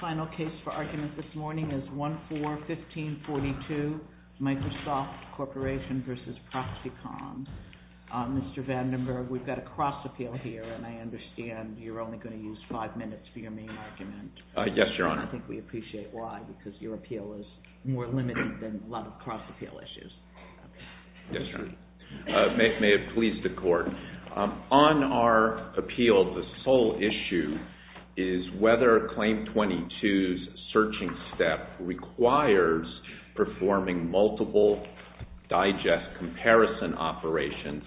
Final case for argument this morning is 1-4-1542, Microsoft v. Proxyconn, Inc. Mr. Vandenberg, we've got a cross-appeal here, and I understand you're only going to use five minutes for your main argument. Yes, Your Honor. I think we appreciate why, because your appeal is more limited than a lot of cross-appeal issues. Yes, Your Honor. May it please the Court. On our appeal, the sole issue is whether Claim 22's searching step requires performing multiple digest comparison operations,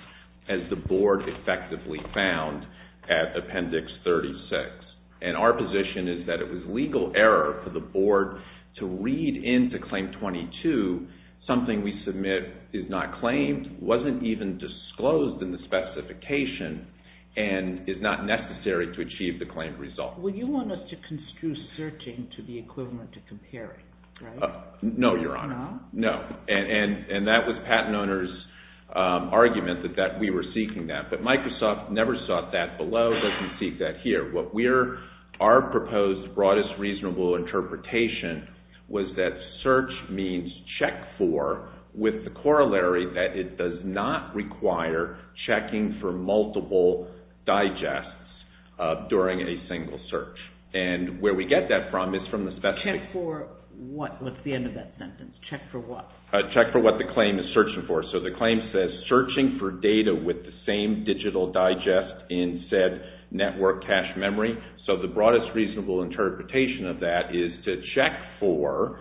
as the Board effectively found at Appendix 36. And our position is that it was legal error for the Board to read into Claim 22 something we submit is not claimed, wasn't even disclosed in the specification, and is not necessary to achieve the claimed result. Well, you want us to construe searching to be equivalent to comparing, right? No, Your Honor. No. And that was Patent Owner's argument that we were seeking that. But Microsoft never sought that below, doesn't seek that here. Our proposed broadest reasonable interpretation was that search means check for, with the corollary that it does not require checking for multiple digests during a single search. And where we get that from is from the specification. Check for what? What's the end of that sentence? Check for what? Check for what the claim is searching for. So the claim says, searching for data with the same digital digest in said network cache memory. So the broadest reasonable interpretation of that is to check for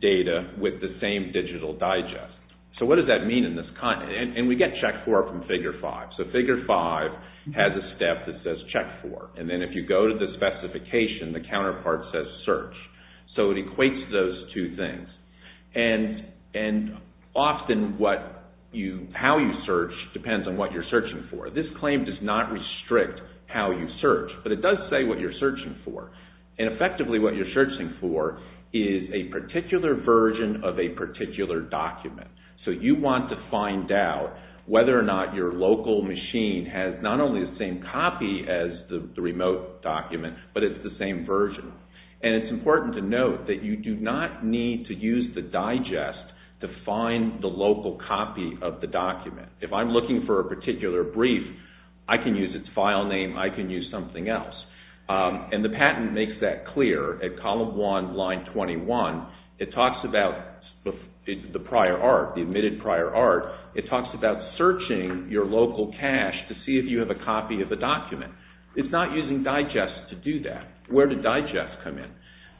data with the same digital digest. So what does that mean in this context? And we get check for from Figure 5. So Figure 5 has a step that says check for. And then if you go to the specification, the counterpart says search. So it equates those two things. And often how you search depends on what you're searching for. This claim does not restrict how you search, but it does say what you're searching for. And effectively what you're searching for is a particular version of a particular document. So you want to find out whether or not your local machine has not only the same copy as the remote document, but it's the same version. And it's important to note that you do not need to use the digest to find the local copy of the document. If I'm looking for a particular brief, I can use its file name, I can use something else. And the patent makes that prior art, it talks about searching your local cache to see if you have a copy of the document. It's not using digest to do that. Where did digest come in?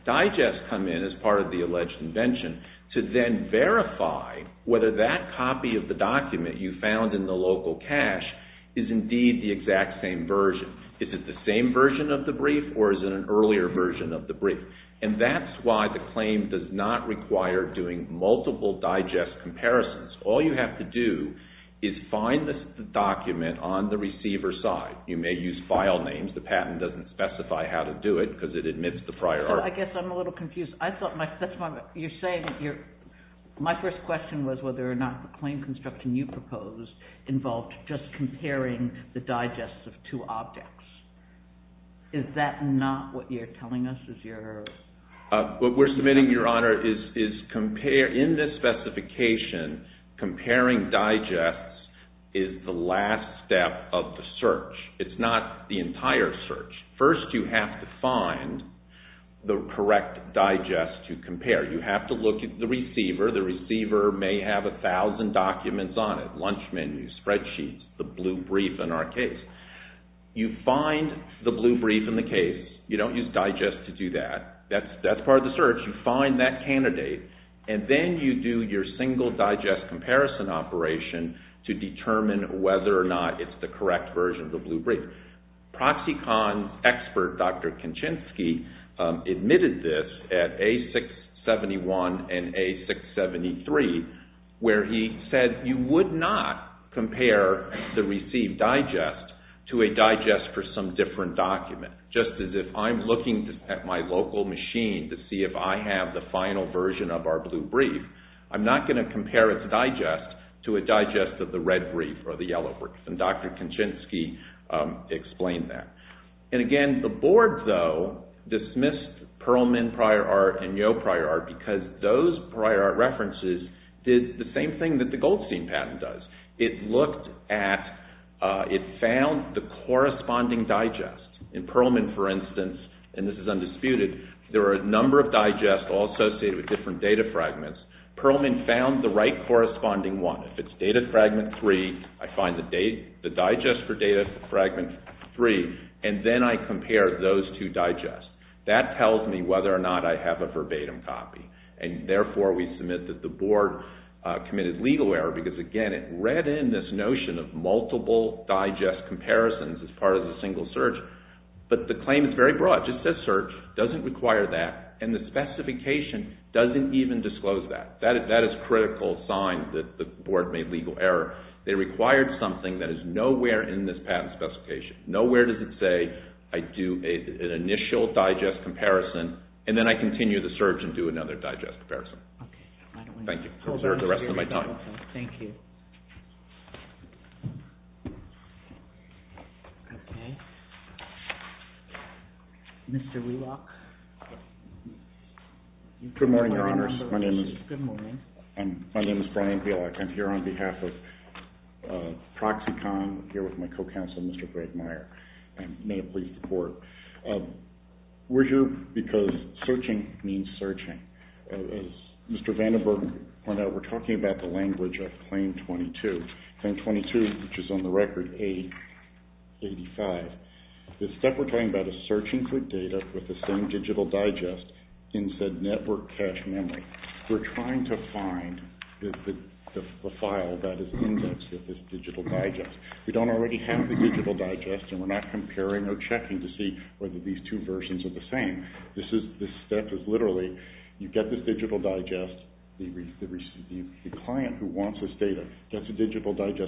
Digest come in as part of the alleged invention to then verify whether that copy of the document you found in the local cache is indeed the exact same version. Is it the same version of the brief or is it an earlier version of the brief? And that's why the claim does not require doing multiple digest comparisons. All you have to do is find the document on the receiver's side. You may use file names. The patent doesn't specify how to do it because it admits the prior art. I guess I'm a little confused. You're saying that my first question was whether or not the claim construction you proposed involved just comparing the digests of two objects. Is that not what you're telling us? What we're submitting, Your Honor, is in this specification, comparing digests is the last step of the search. It's not the entire search. First, you have to find the correct digest to compare. You have to look at the receiver. The receiver may have a thousand documents on it. Lunch menu, spreadsheets, the blue brief in our case. You find the blue brief in the case. You don't use digest to do that. That's part of the search. You find that candidate and then you do your single digest comparison operation to determine whether or not it's the correct version of the blue brief. ProxyCon's expert, Dr. Kincinski, admitted this at A671 and A673 where he said you would not compare the received digest to a digest for some different document, just as if the candidate is looking at my local machine to see if I have the final version of our blue brief, I'm not going to compare its digest to a digest of the red brief or the yellow brief. And Dr. Kincinski explained that. And again, the board, though, dismissed Perlman Prior Art and Yo Prior Art because those prior art references did the same thing that the Goldstein patent does. It looked at, it found the reference, and this is undisputed, there are a number of digests all associated with different data fragments. Perlman found the right corresponding one. If it's data fragment three, I find the digest for data fragment three and then I compare those two digests. That tells me whether or not I have a verbatim copy. And therefore, we submit that the board committed legal error because, again, it read in this notion of fraud. It says search. It doesn't require that. And the specification doesn't even disclose that. That is critical sign that the board made legal error. They required something that is nowhere in this patent specification. Nowhere does it say I do an initial digest comparison and then I continue the search and do another digest comparison. Thank you. I'll reserve the rest of my time. Mr. Wheelock. Good morning, Your Honors. My name is Brian Wheelock. I'm here on behalf of ProxyCon. I'm here with my co-counsel, Mr. Greg Meyer. May it please the court. We're here because searching means searching. Mr. Vandenberg, we're talking about the language of Claim 22, which is on the record A85. This step we're talking about is searching for data with the same digital digest in said network cache memory. We're trying to find the file that is indexed with this digital digest. We don't already have the digital digest and we're not comparing or checking to see whether these two versions are the same. This step is literally, you get this digital digest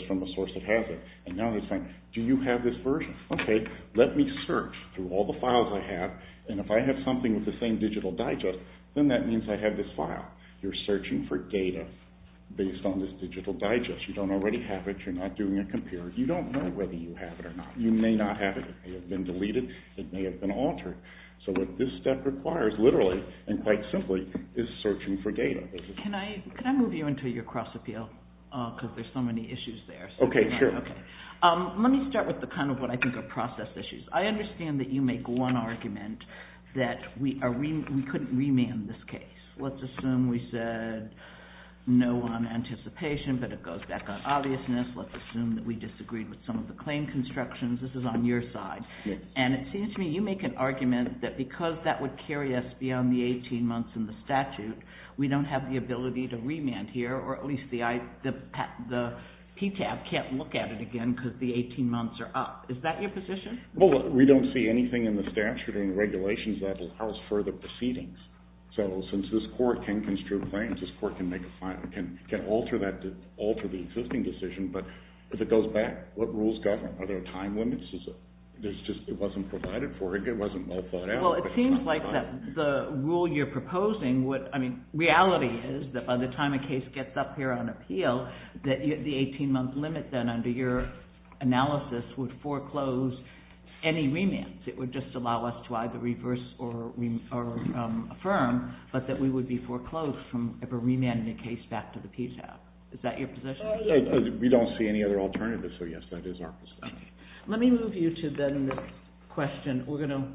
from a source that has it. Do you have this version? Okay, let me search through all the files I have and if I have something with the same digital digest, then that means I have this file. You're searching for data based on this digital digest. You don't already have it. You're not doing a compare. You don't know whether you have it or not. You may not have it. It may have been deleted. It may have been altered. So what this step requires literally and quite I want to move you into your cross appeal because there's so many issues there. Let me start with the kind of what I think are process issues. I understand that you make one argument that we couldn't remand this case. Let's assume we said no on anticipation but it goes back on obviousness. Let's assume that we disagreed with some of the claim constructions. This is on your side. And it seems to me you make an argument that we can't here or at least the PTAB can't look at it again because the 18 months are up. Is that your position? Well, we don't see anything in the statute or in the regulations that allows further proceedings. So since this court can construct claims, this court can alter that to alter the existing decision but if it goes back, what rules govern? Are there time limits? It wasn't provided for. It wasn't well I mean reality is that by the time a case gets up here on appeal that the 18 month limit then under your analysis would foreclose any remands. It would just allow us to either reverse or affirm but that we would be foreclosed from ever remanding a case back to the PTAB. Is that your position? We don't see any other alternative so yes that is our position. Let me move you to then this question. We're going to,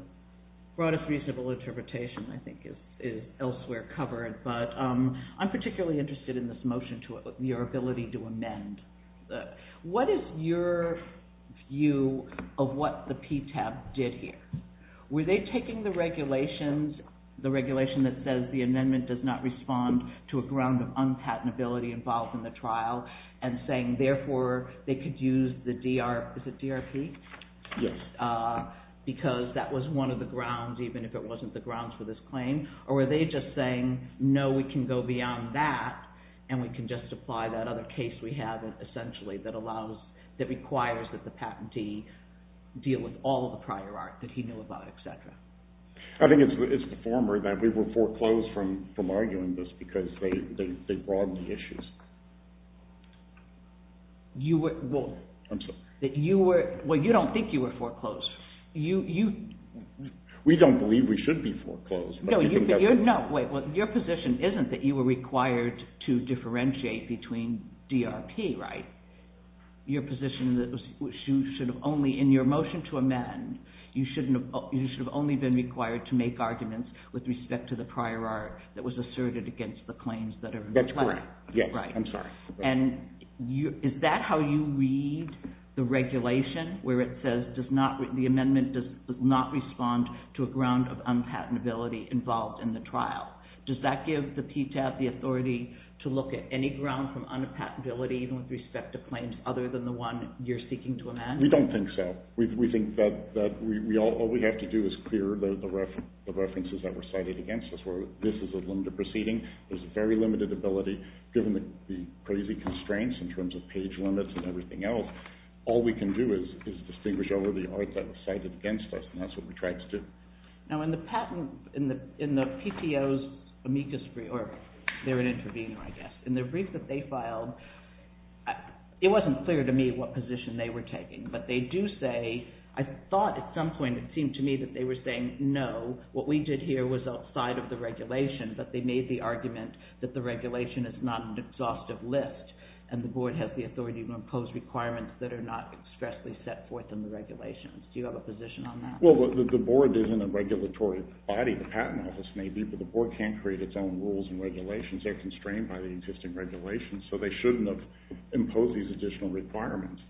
broadest reasonable interpretation I think is elsewhere covered but I'm particularly interested in this motion to your ability to amend. What is your view of what the PTAB did here? Were they taking the regulations, the regulation that says the amendment does not respond to a ground of unpatentability involved in the trial and saying therefore they could use the DR, is it DRP? Yes. Because that was one of the grounds even if it wasn't the grounds for this claim or were they just saying no we can go beyond that and we can just apply that other case we have essentially that allows that requires that the patentee deal with all of the prior art that he knew about etc. I think it's the former that we were foreclosed from arguing this because they broadened the issues. Well you don't think you were foreclosed. We don't believe we should be foreclosed. Your position isn't that you were required to differentiate between DRP right? Your position that you should have only in your motion to amend you should have only been required to make arguments with respect to the prior art that was asserted against the claims. That's correct. I'm sorry. Is that how you read the regulation where it says the amendment does not respond to a ground of unpatentability involved in the trial? Does that give the PTAT the authority to look at any ground from unpatentability even with respect to claims other than the one you're seeking to amend? We don't think so. We think that all we have to do is clear the references that were cited against us. This is a limited proceeding. There's a very limited ability given the crazy constraints in terms of page limits and everything else. All we can do is distinguish over the art that was cited against us and that's what we tried to do. In the brief that they filed, it wasn't clear to me what position they were taking, but they do say, I thought at some point it seemed to me that they were saying no, what we did here was outside of the regulation, but they made the argument that the regulation is not an exhaustive list and the board has the authority to impose requirements that are not expressly set forth in the regulations. Do you have a position on that? Well, the board isn't a regulatory body. The Patent Office may be, but the board can't create its own rules and regulations. They're constrained by the existing regulations, so they shouldn't have imposed these additional requirements.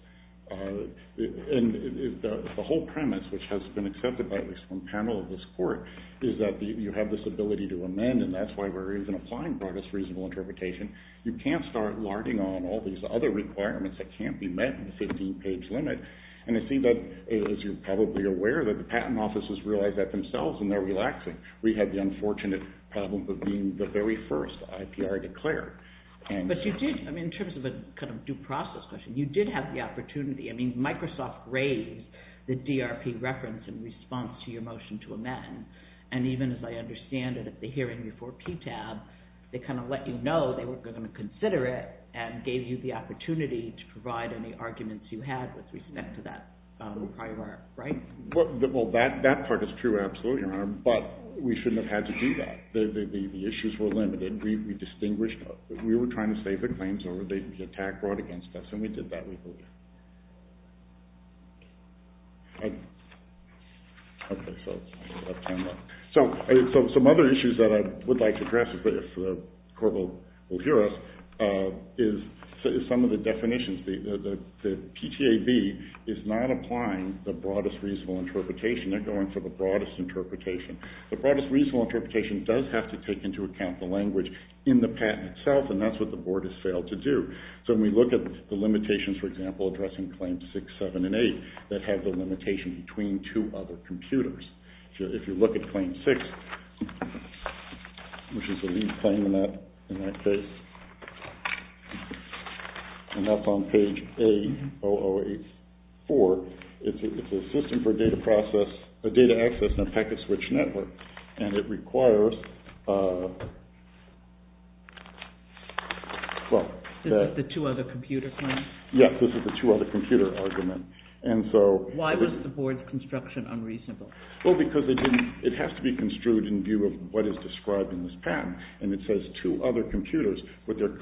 The whole premise, which has been accepted by at least one panel of this court, is that you have this ability to amend and that's why we're even applying broadest reasonable interpretation. You can't start larding on all these other requirements that can't be met in the 15-page limit. As you're probably aware, the Patent Office has realized that themselves and they're relaxing. We had the unfortunate problem of being the very first IPR declared. But you did, in terms of a kind of due process question, you did have the opportunity. I mean, Microsoft raised the DRP reference in response to your motion to amend. And even as I understand it at the hearing before PTAB, they kind of let you know they were going to consider it and gave you the opportunity to provide any arguments you had with respect to that prior art, right? Well, that part is true, absolutely, Your Honor, but we shouldn't have had to do that. The issues were limited. We distinguished. We were trying to save the claims or they'd be attacked, brought against us, and we did that legally. Some other issues that I would like to address, if the Court will hear us, is some of the definitions. The PTAB is not applying the broadest reasonable interpretation. They're going for the broadest interpretation. The broadest reasonable interpretation does have to take into account the language in the patent itself, and that's what the Board has failed to do. So, when we look at the limitations, for example, addressing Claims 6, 7, and 8, that have the limitation between two other computers. If you look at Claim 6, which is the least claim in that case, and that's on page A-008-4, it's a system for data access in a packet switch network, and it requires that... This is the two other computer claim? Yes, this is the two other computer argument. Why was the Board's construction unreasonable? Well, because it has to be construed in view of what is described in this patent, and it says two other computers. What the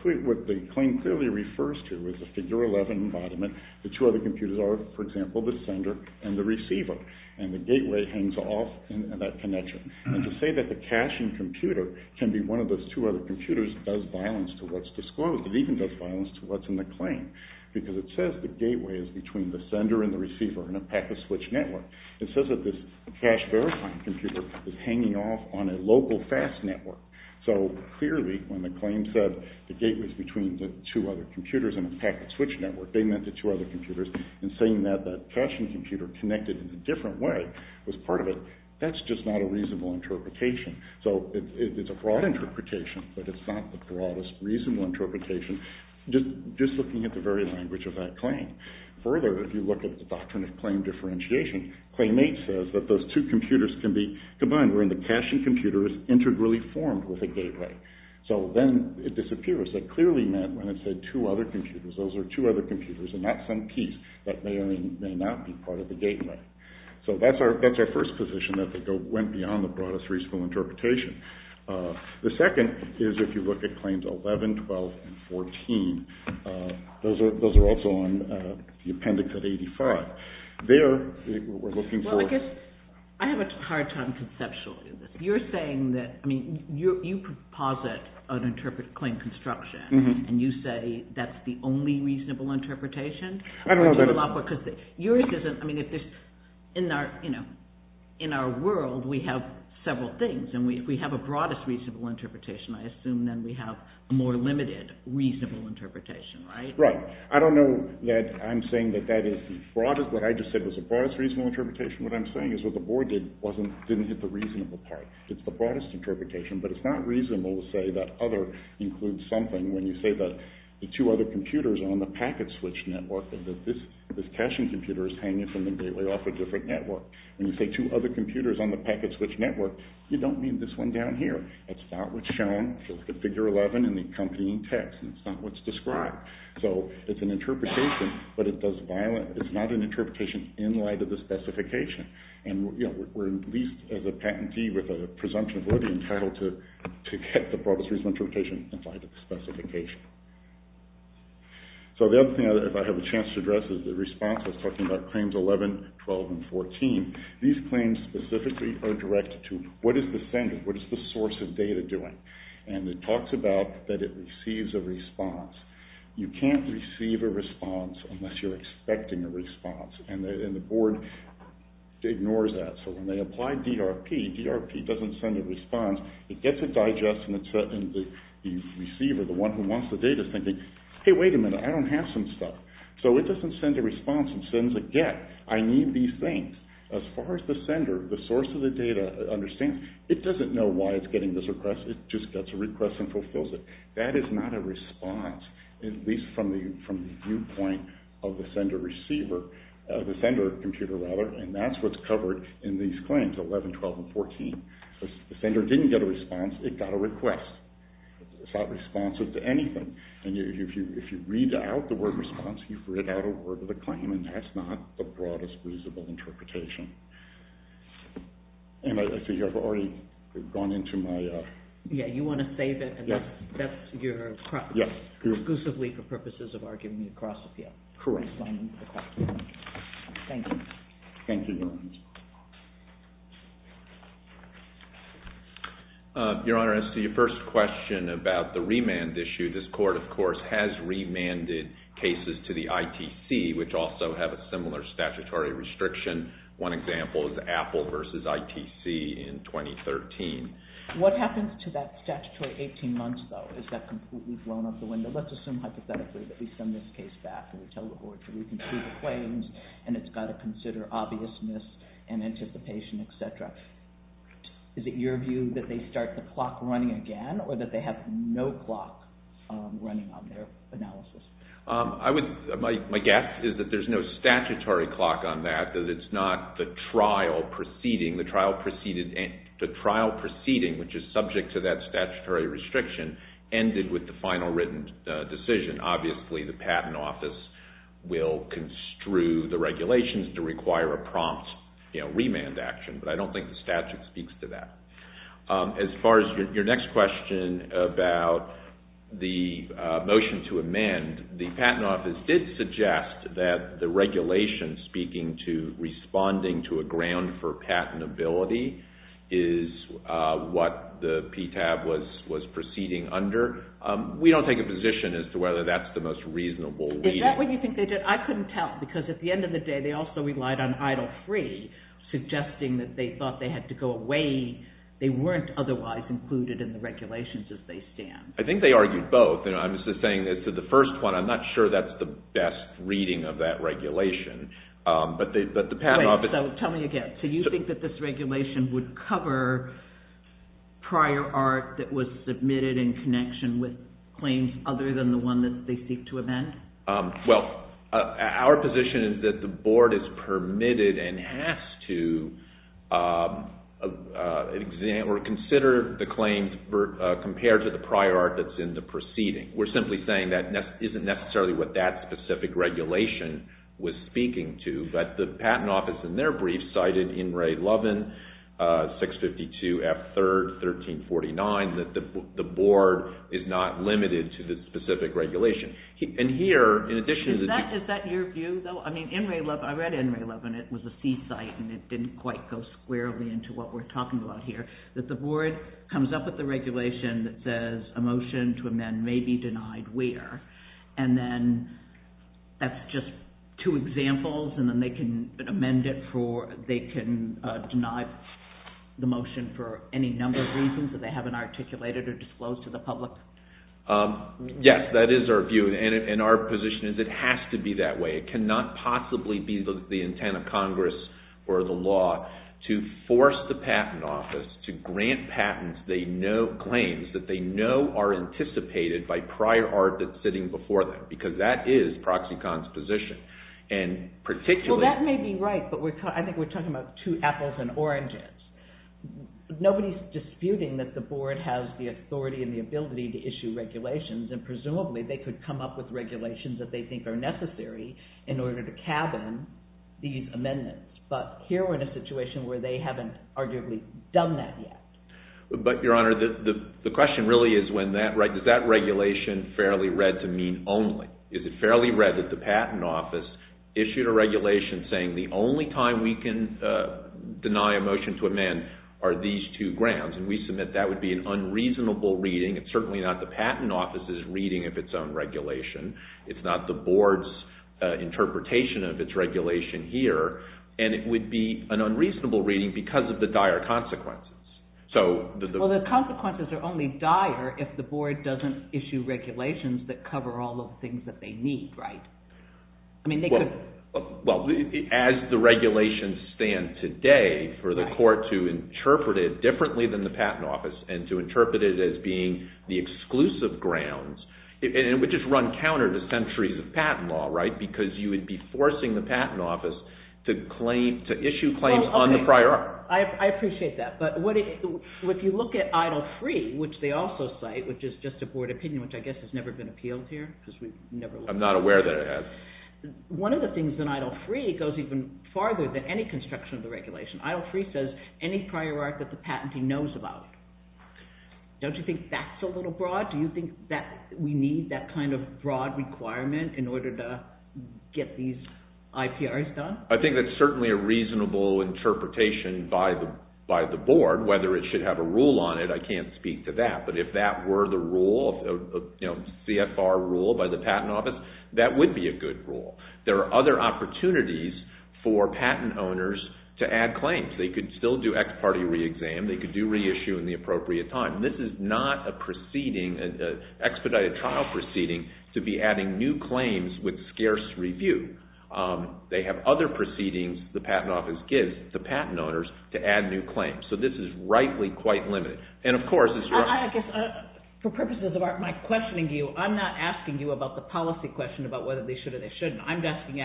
claim clearly refers to is the figure 11 embodiment. The two other computers are, for example, the sender and the receiver, and the gateway hangs off that connection. And to say that the caching computer can be one of those two other computers does violence to what's disclosed. It even does violence to what's in the claim, because it says the gateway is between the sender and the receiver in a packet switch network. It says that this cache-verifying computer is hanging off on a local fast network. So, clearly, when the claim said the gateway is between the two other computers in a packet switch network, they meant the two other computers, and saying that the caching computer connected in a different way was part of it, that's just not a reasonable interpretation. So, it's a broad interpretation, but it's not the broadest reasonable interpretation, just looking at the very language of that claim. Further, if you look at the Doctrine of Claim Differentiation, Claim 8 says that those two computers can be combined, wherein the caching computer is integrally formed with a gateway. So, then it disappears. It clearly meant when it said two other computers, those are two other computers and not some piece that may or may not be part of the gateway. So, that's our first position, that they went beyond the broadest reasonable interpretation. The second is if you look at Claims 11, 12, and 14. Those are also on the Appendix of 85. There, we're looking for... Well, I guess, I have a hard time conceptually with this. You're saying that, I mean, you proposit an equally reasonable interpretation? I don't know that... Yours isn't... I mean, if there's... In our world, we have several things, and if we have a broadest reasonable interpretation, I assume then we have a more limited reasonable interpretation, right? Right. I don't know that I'm saying that that is the broadest, what I just said was the broadest reasonable interpretation. What I'm saying is what the board did didn't hit the reasonable part. It's the broadest interpretation, but it's not reasonable to say that other includes something when you say that the two other computers are on the packet switch network and that this caching computer is hanging from the gateway off a different network. When you say two other computers on the packet switch network, you don't mean this one down here. It's not what's shown. It's the Figure 11 and the accompanying text, and it's not what's described. So, it's an interpretation, but it does violate... It's not an interpretation in light of the specification, and we're at least as a patentee with a presumption of liberty entitled to get the broadest reasonable interpretation in light of the specification. So, the other thing I have a chance to address is the response. I was talking about Claims 11, 12, and 14. These claims specifically are directed to what is the sender? What is the source of data doing? And it talks about that it receives a response. You can't receive a response unless you're expecting a response. And the board ignores that. So, when they apply DRP, DRP doesn't send a response. It gets a digest, and the receiver, the one who wants the data, is thinking, hey, wait a minute, I don't have some stuff. So, it doesn't send a response. It sends a get. I need these things. As far as the sender, the source of the data understands, it doesn't know why it's getting this request. It just gets a request and fulfills it. That is not a response, at least from the viewpoint of the sender-receiver, the sender computer, rather, and that's what's covered in these claims, 11, 12, and 14. The sender didn't get a response. It got a request. It's not responsive to anything. And if you read out the word response, you've read out a word of the claim, and that's not the broadest reasonable interpretation. And I think I've already gone into my… Yeah, you want to save it, and that's your… Yeah. Exclusively for purposes of arguing the cross-appeal. Correct. Thank you. Thank you, Your Honor. Your Honor, as to your first question about the remand issue, this Court, of course, has remanded cases to the ITC, which also have a similar statutory restriction. One example is Apple v. ITC in 2013. What happens to that statutory 18 months, though? Is that completely blown out the window? Let's assume hypothetically that we send this case back and we tell the Court to reconstruct the claims, and it's got to consider obviousness and anticipation, etc. Is it your view that they start the clock running again, or that they have no clock running on their analysis? My guess is that there's no statutory clock on that, that it's not the trial proceeding. The trial proceeding, which is subject to that statutory restriction, ended with the final written decision. Obviously, the Patent Office will construe the regulations to require a prompt remand action, but I don't think the statute speaks to that. As far as your next question about the motion to amend, the Patent Office did suggest that the regulation speaking to responding to a ground for patentability is what the PTAB was proceeding under. We don't take a position as to whether that's the most reasonable reading. Is that what you think they did? I couldn't tell, because at the end of the day, they also relied on idle-free, suggesting that they thought they had to go away. They weren't otherwise included in the regulations as they stand. I think they argued both. I'm just saying, as to the first one, I'm not sure that's the best reading of that regulation. Tell me again. Do you think that this regulation would cover prior art that was submitted in connection with claims other than the one that they seek to amend? Well, our position is that the Board is permitted and has to consider the claims compared to the prior art that's in the proceeding. We're simply saying that isn't necessarily what that specific regulation was speaking to. But the Patent Office, in their brief, cited In Re. 11, 652 F. 3rd, 1349, that the Board is not limited to this specific regulation. Is that your view, though? I read In Re. 11. It was a C-site, and it didn't quite go squarely into what we're talking about here. That the Board comes up with a regulation that says a motion to amend may be denied where? And then that's just two examples, and then they can amend it for, they can deny the motion for any number of reasons that they haven't articulated or disclosed to the public? Yes, that is our view, and our position is it has to be that way. It cannot possibly be the intent of Congress or the law to force the Patent Office to grant patents they know, claims that they know are anticipated by prior art that's sitting before them, because that is ProxyCon's position. Well, that may be right, but I think we're talking about two apples and oranges. Nobody's disputing that the Board has the authority and the ability to issue regulations, and presumably they could come up with regulations that they think are necessary in order to cabin these amendments. But here we're in a situation where they haven't arguably done that yet. But, Your Honor, the question really is does that regulation fairly read to mean only? Is it fairly read that the Patent Office issued a regulation saying the only time we can deny a motion to amend are these two grounds? And we submit that would be an unreasonable reading. It's certainly not the Patent Office's reading of its own regulation. It's not the Board's interpretation of its regulation here, and it would be an unreasonable reading because of the dire consequences. Well, the consequences are only dire if the Board doesn't issue regulations that cover all the things that they need, right? Well, as the regulations stand today for the Court to interpret it differently than the Patent Office and to interpret it as being the exclusive grounds, it would just run counter to centuries of patent law, right, because you would be forcing the Patent Office to issue claims on the prior art. I appreciate that, but if you look at Idle Free, which they also cite, which is just a Board opinion, which I guess has never been appealed here because we've never looked at it. One of the things in Idle Free goes even farther than any construction of the regulation. Idle Free says any prior art that the patentee knows about. Don't you think that's a little broad? Do you think that we need that kind of broad requirement in order to get these IPRs done? I think that's certainly a reasonable interpretation by the Board. Whether it should have a rule on it, I can't speak to that. But if that were the rule, CFR rule by the Patent Office, that would be a good rule. There are other opportunities for patent owners to add claims. They could still do ex parte reexam. They could do reissue in the appropriate time. This is not an expedited trial proceeding to be adding new claims with scarce review. They have other proceedings the Patent Office gives the patent owners to add new claims. So this is rightly quite limited. For purposes of my questioning you, I'm not asking you about the policy question about whether they should or they shouldn't. I'm asking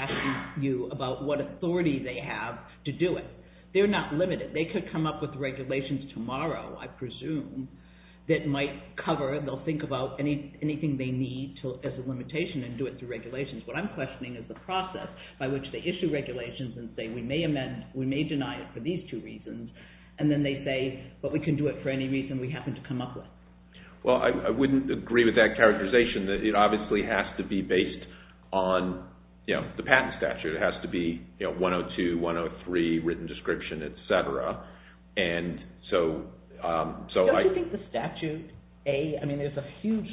you about what authority they have to do it. They're not limited. They could come up with regulations tomorrow, I presume, that might cover. They'll think about anything they need as a limitation and do it through regulations. What I'm questioning is the process by which they issue regulations and say we may deny it for these two reasons. And then they say, but we can do it for any reason we happen to come up with. Well, I wouldn't agree with that characterization. It obviously has to be based on the patent statute. It has to be 102, 103, written description, et cetera. Don't you think the statute, A, I mean there's a huge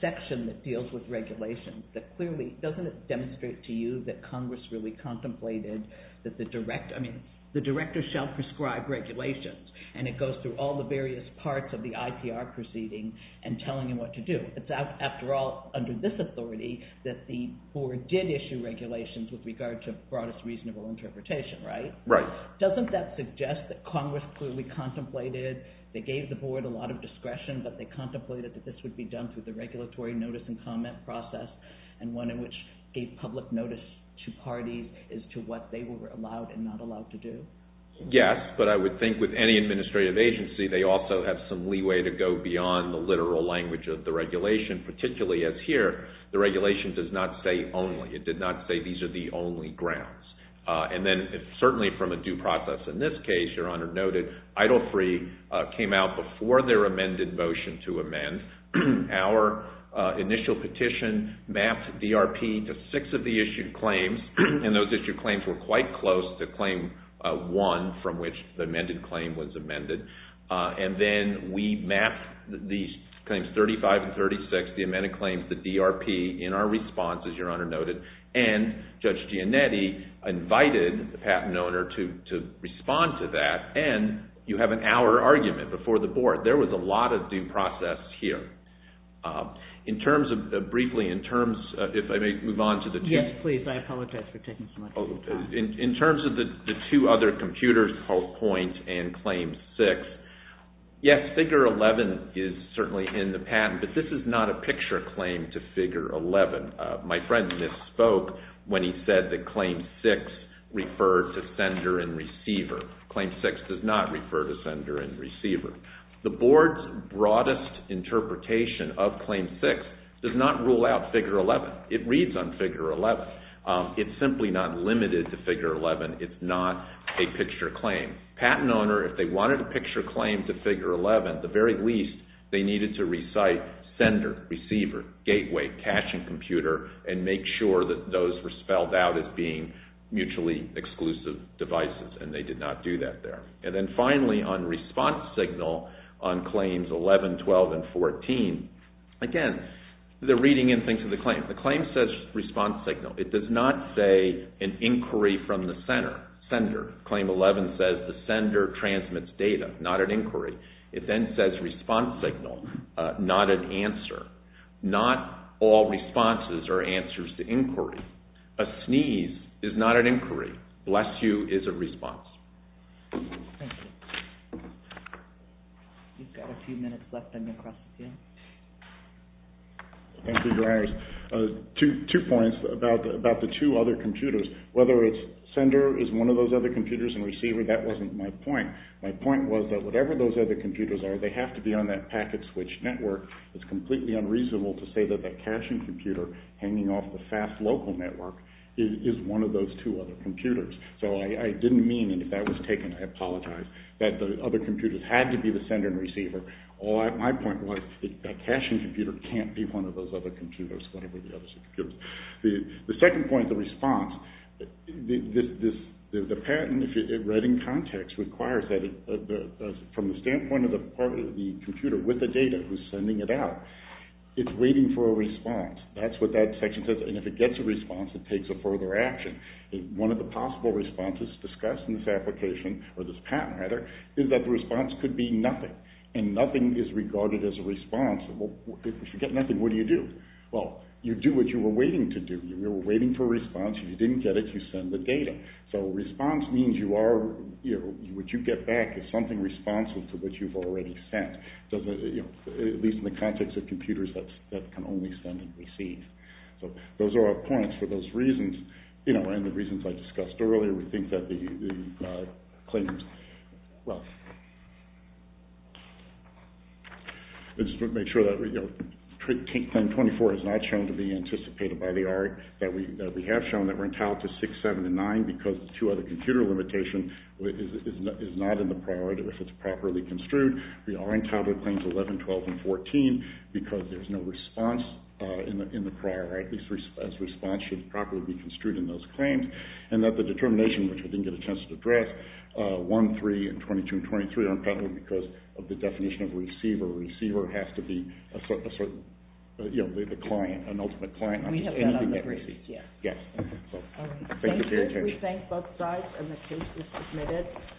section that deals with regulations. Doesn't it demonstrate to you that Congress really contemplated that the director shall prescribe regulations? And it goes through all the various parts of the IPR proceeding and telling you what to do. It's after all under this authority that the board did issue regulations with regard to broadest reasonable interpretation, right? Right. Doesn't that suggest that Congress clearly contemplated, they gave the board a lot of discretion, but they contemplated that this would be done through the regulatory notice and comment process, and one in which gave public notice to parties as to what they were allowed and not allowed to do? Yes, but I would think with any administrative agency, they also have some leeway to go beyond the literal language of the regulation, particularly as here, the regulation does not say only. It did not say these are the only grounds. And then certainly from a due process in this case, Your Honor noted, Idle Free came out before their amended motion to amend. Our initial petition mapped DRP to six of the issued claims, and those issued claims were quite close to claim one from which the amended claim was amended. And then we mapped the claims 35 and 36, the amended claims, the DRP, in our response, as Your Honor noted, and Judge Giannetti invited the patent owner to respond to that, and you have an hour argument before the board. There was a lot of due process here. In terms of briefly, in terms, if I may move on to the two. Yes, please. I apologize for taking so much of your time. In terms of the two other computers called point and claim six, yes, figure 11 is certainly in the patent, but this is not a picture claim to figure 11. My friend misspoke when he said that claim six referred to sender and receiver. Claim six does not refer to sender and receiver. The board's broadest interpretation of claim six does not rule out figure 11. It reads on figure 11. It's simply not limited to figure 11. It's not a picture claim. Patent owner, if they wanted a picture claim to figure 11, they needed to recite sender, receiver, gateway, caching computer, and make sure that those were spelled out as being mutually exclusive devices, and they did not do that there. And then finally, on response signal on claims 11, 12, and 14, again, they're reading into the claim. The claim says response signal. It does not say an inquiry from the sender. Claim 11 says the sender transmits data, not an inquiry. It then says response signal, not an answer. Not all responses are answers to inquiry. A sneeze is not an inquiry. Bless you is a response. Thank you. We've got a few minutes left, and then we'll cross the field. Thank you, Your Honors. Two points about the two other computers. Whether it's sender is one of those other computers and receiver, that wasn't my point. My point was that whatever those other computers are, they have to be on that packet switch network. It's completely unreasonable to say that the caching computer hanging off the fast local network is one of those two other computers. So I didn't mean, and if that was taken, I apologize, that the other computers had to be the sender and receiver. My point was that caching computer can't be one of those other computers, whatever the others are computers. The second point, the response, the patent, if you read in context, requires that, from the standpoint of the computer with the data who's sending it out, it's waiting for a response. That's what that section says, and if it gets a response, it takes a further action. One of the possible responses discussed in this application, or this patent, rather, is that the response could be nothing, and nothing is regarded as a response. If you get nothing, what do you do? Well, you do what you were waiting to do. You were waiting for a response. If you didn't get it, you send the data. So response means you are, what you get back is something responsive to what you've already sent, at least in the context of computers that can only send and receive. So those are our points for those reasons, and the reasons I discussed earlier. We think that the claims, well, I just want to make sure that, you know, Claim 24 has not shown to be anticipated by the ARC, that we have shown that we're entitled to 6, 7, and 9 because two other computer limitations is not in the priority if it's properly construed. We are entitled to Claims 11, 12, and 14 because there's no response in the priority. This response should properly be construed in those claims, and that the determination, which I didn't get a chance to address, but Claims 1, 3, and 22, and 23 are entitled because of the definition of receiver. Receiver has to be a certain, you know, the client, an ultimate client. We have that on the briefs, yes. Yes. Thank you for your attention. Thank you. We thank both sides, and the case is submitted.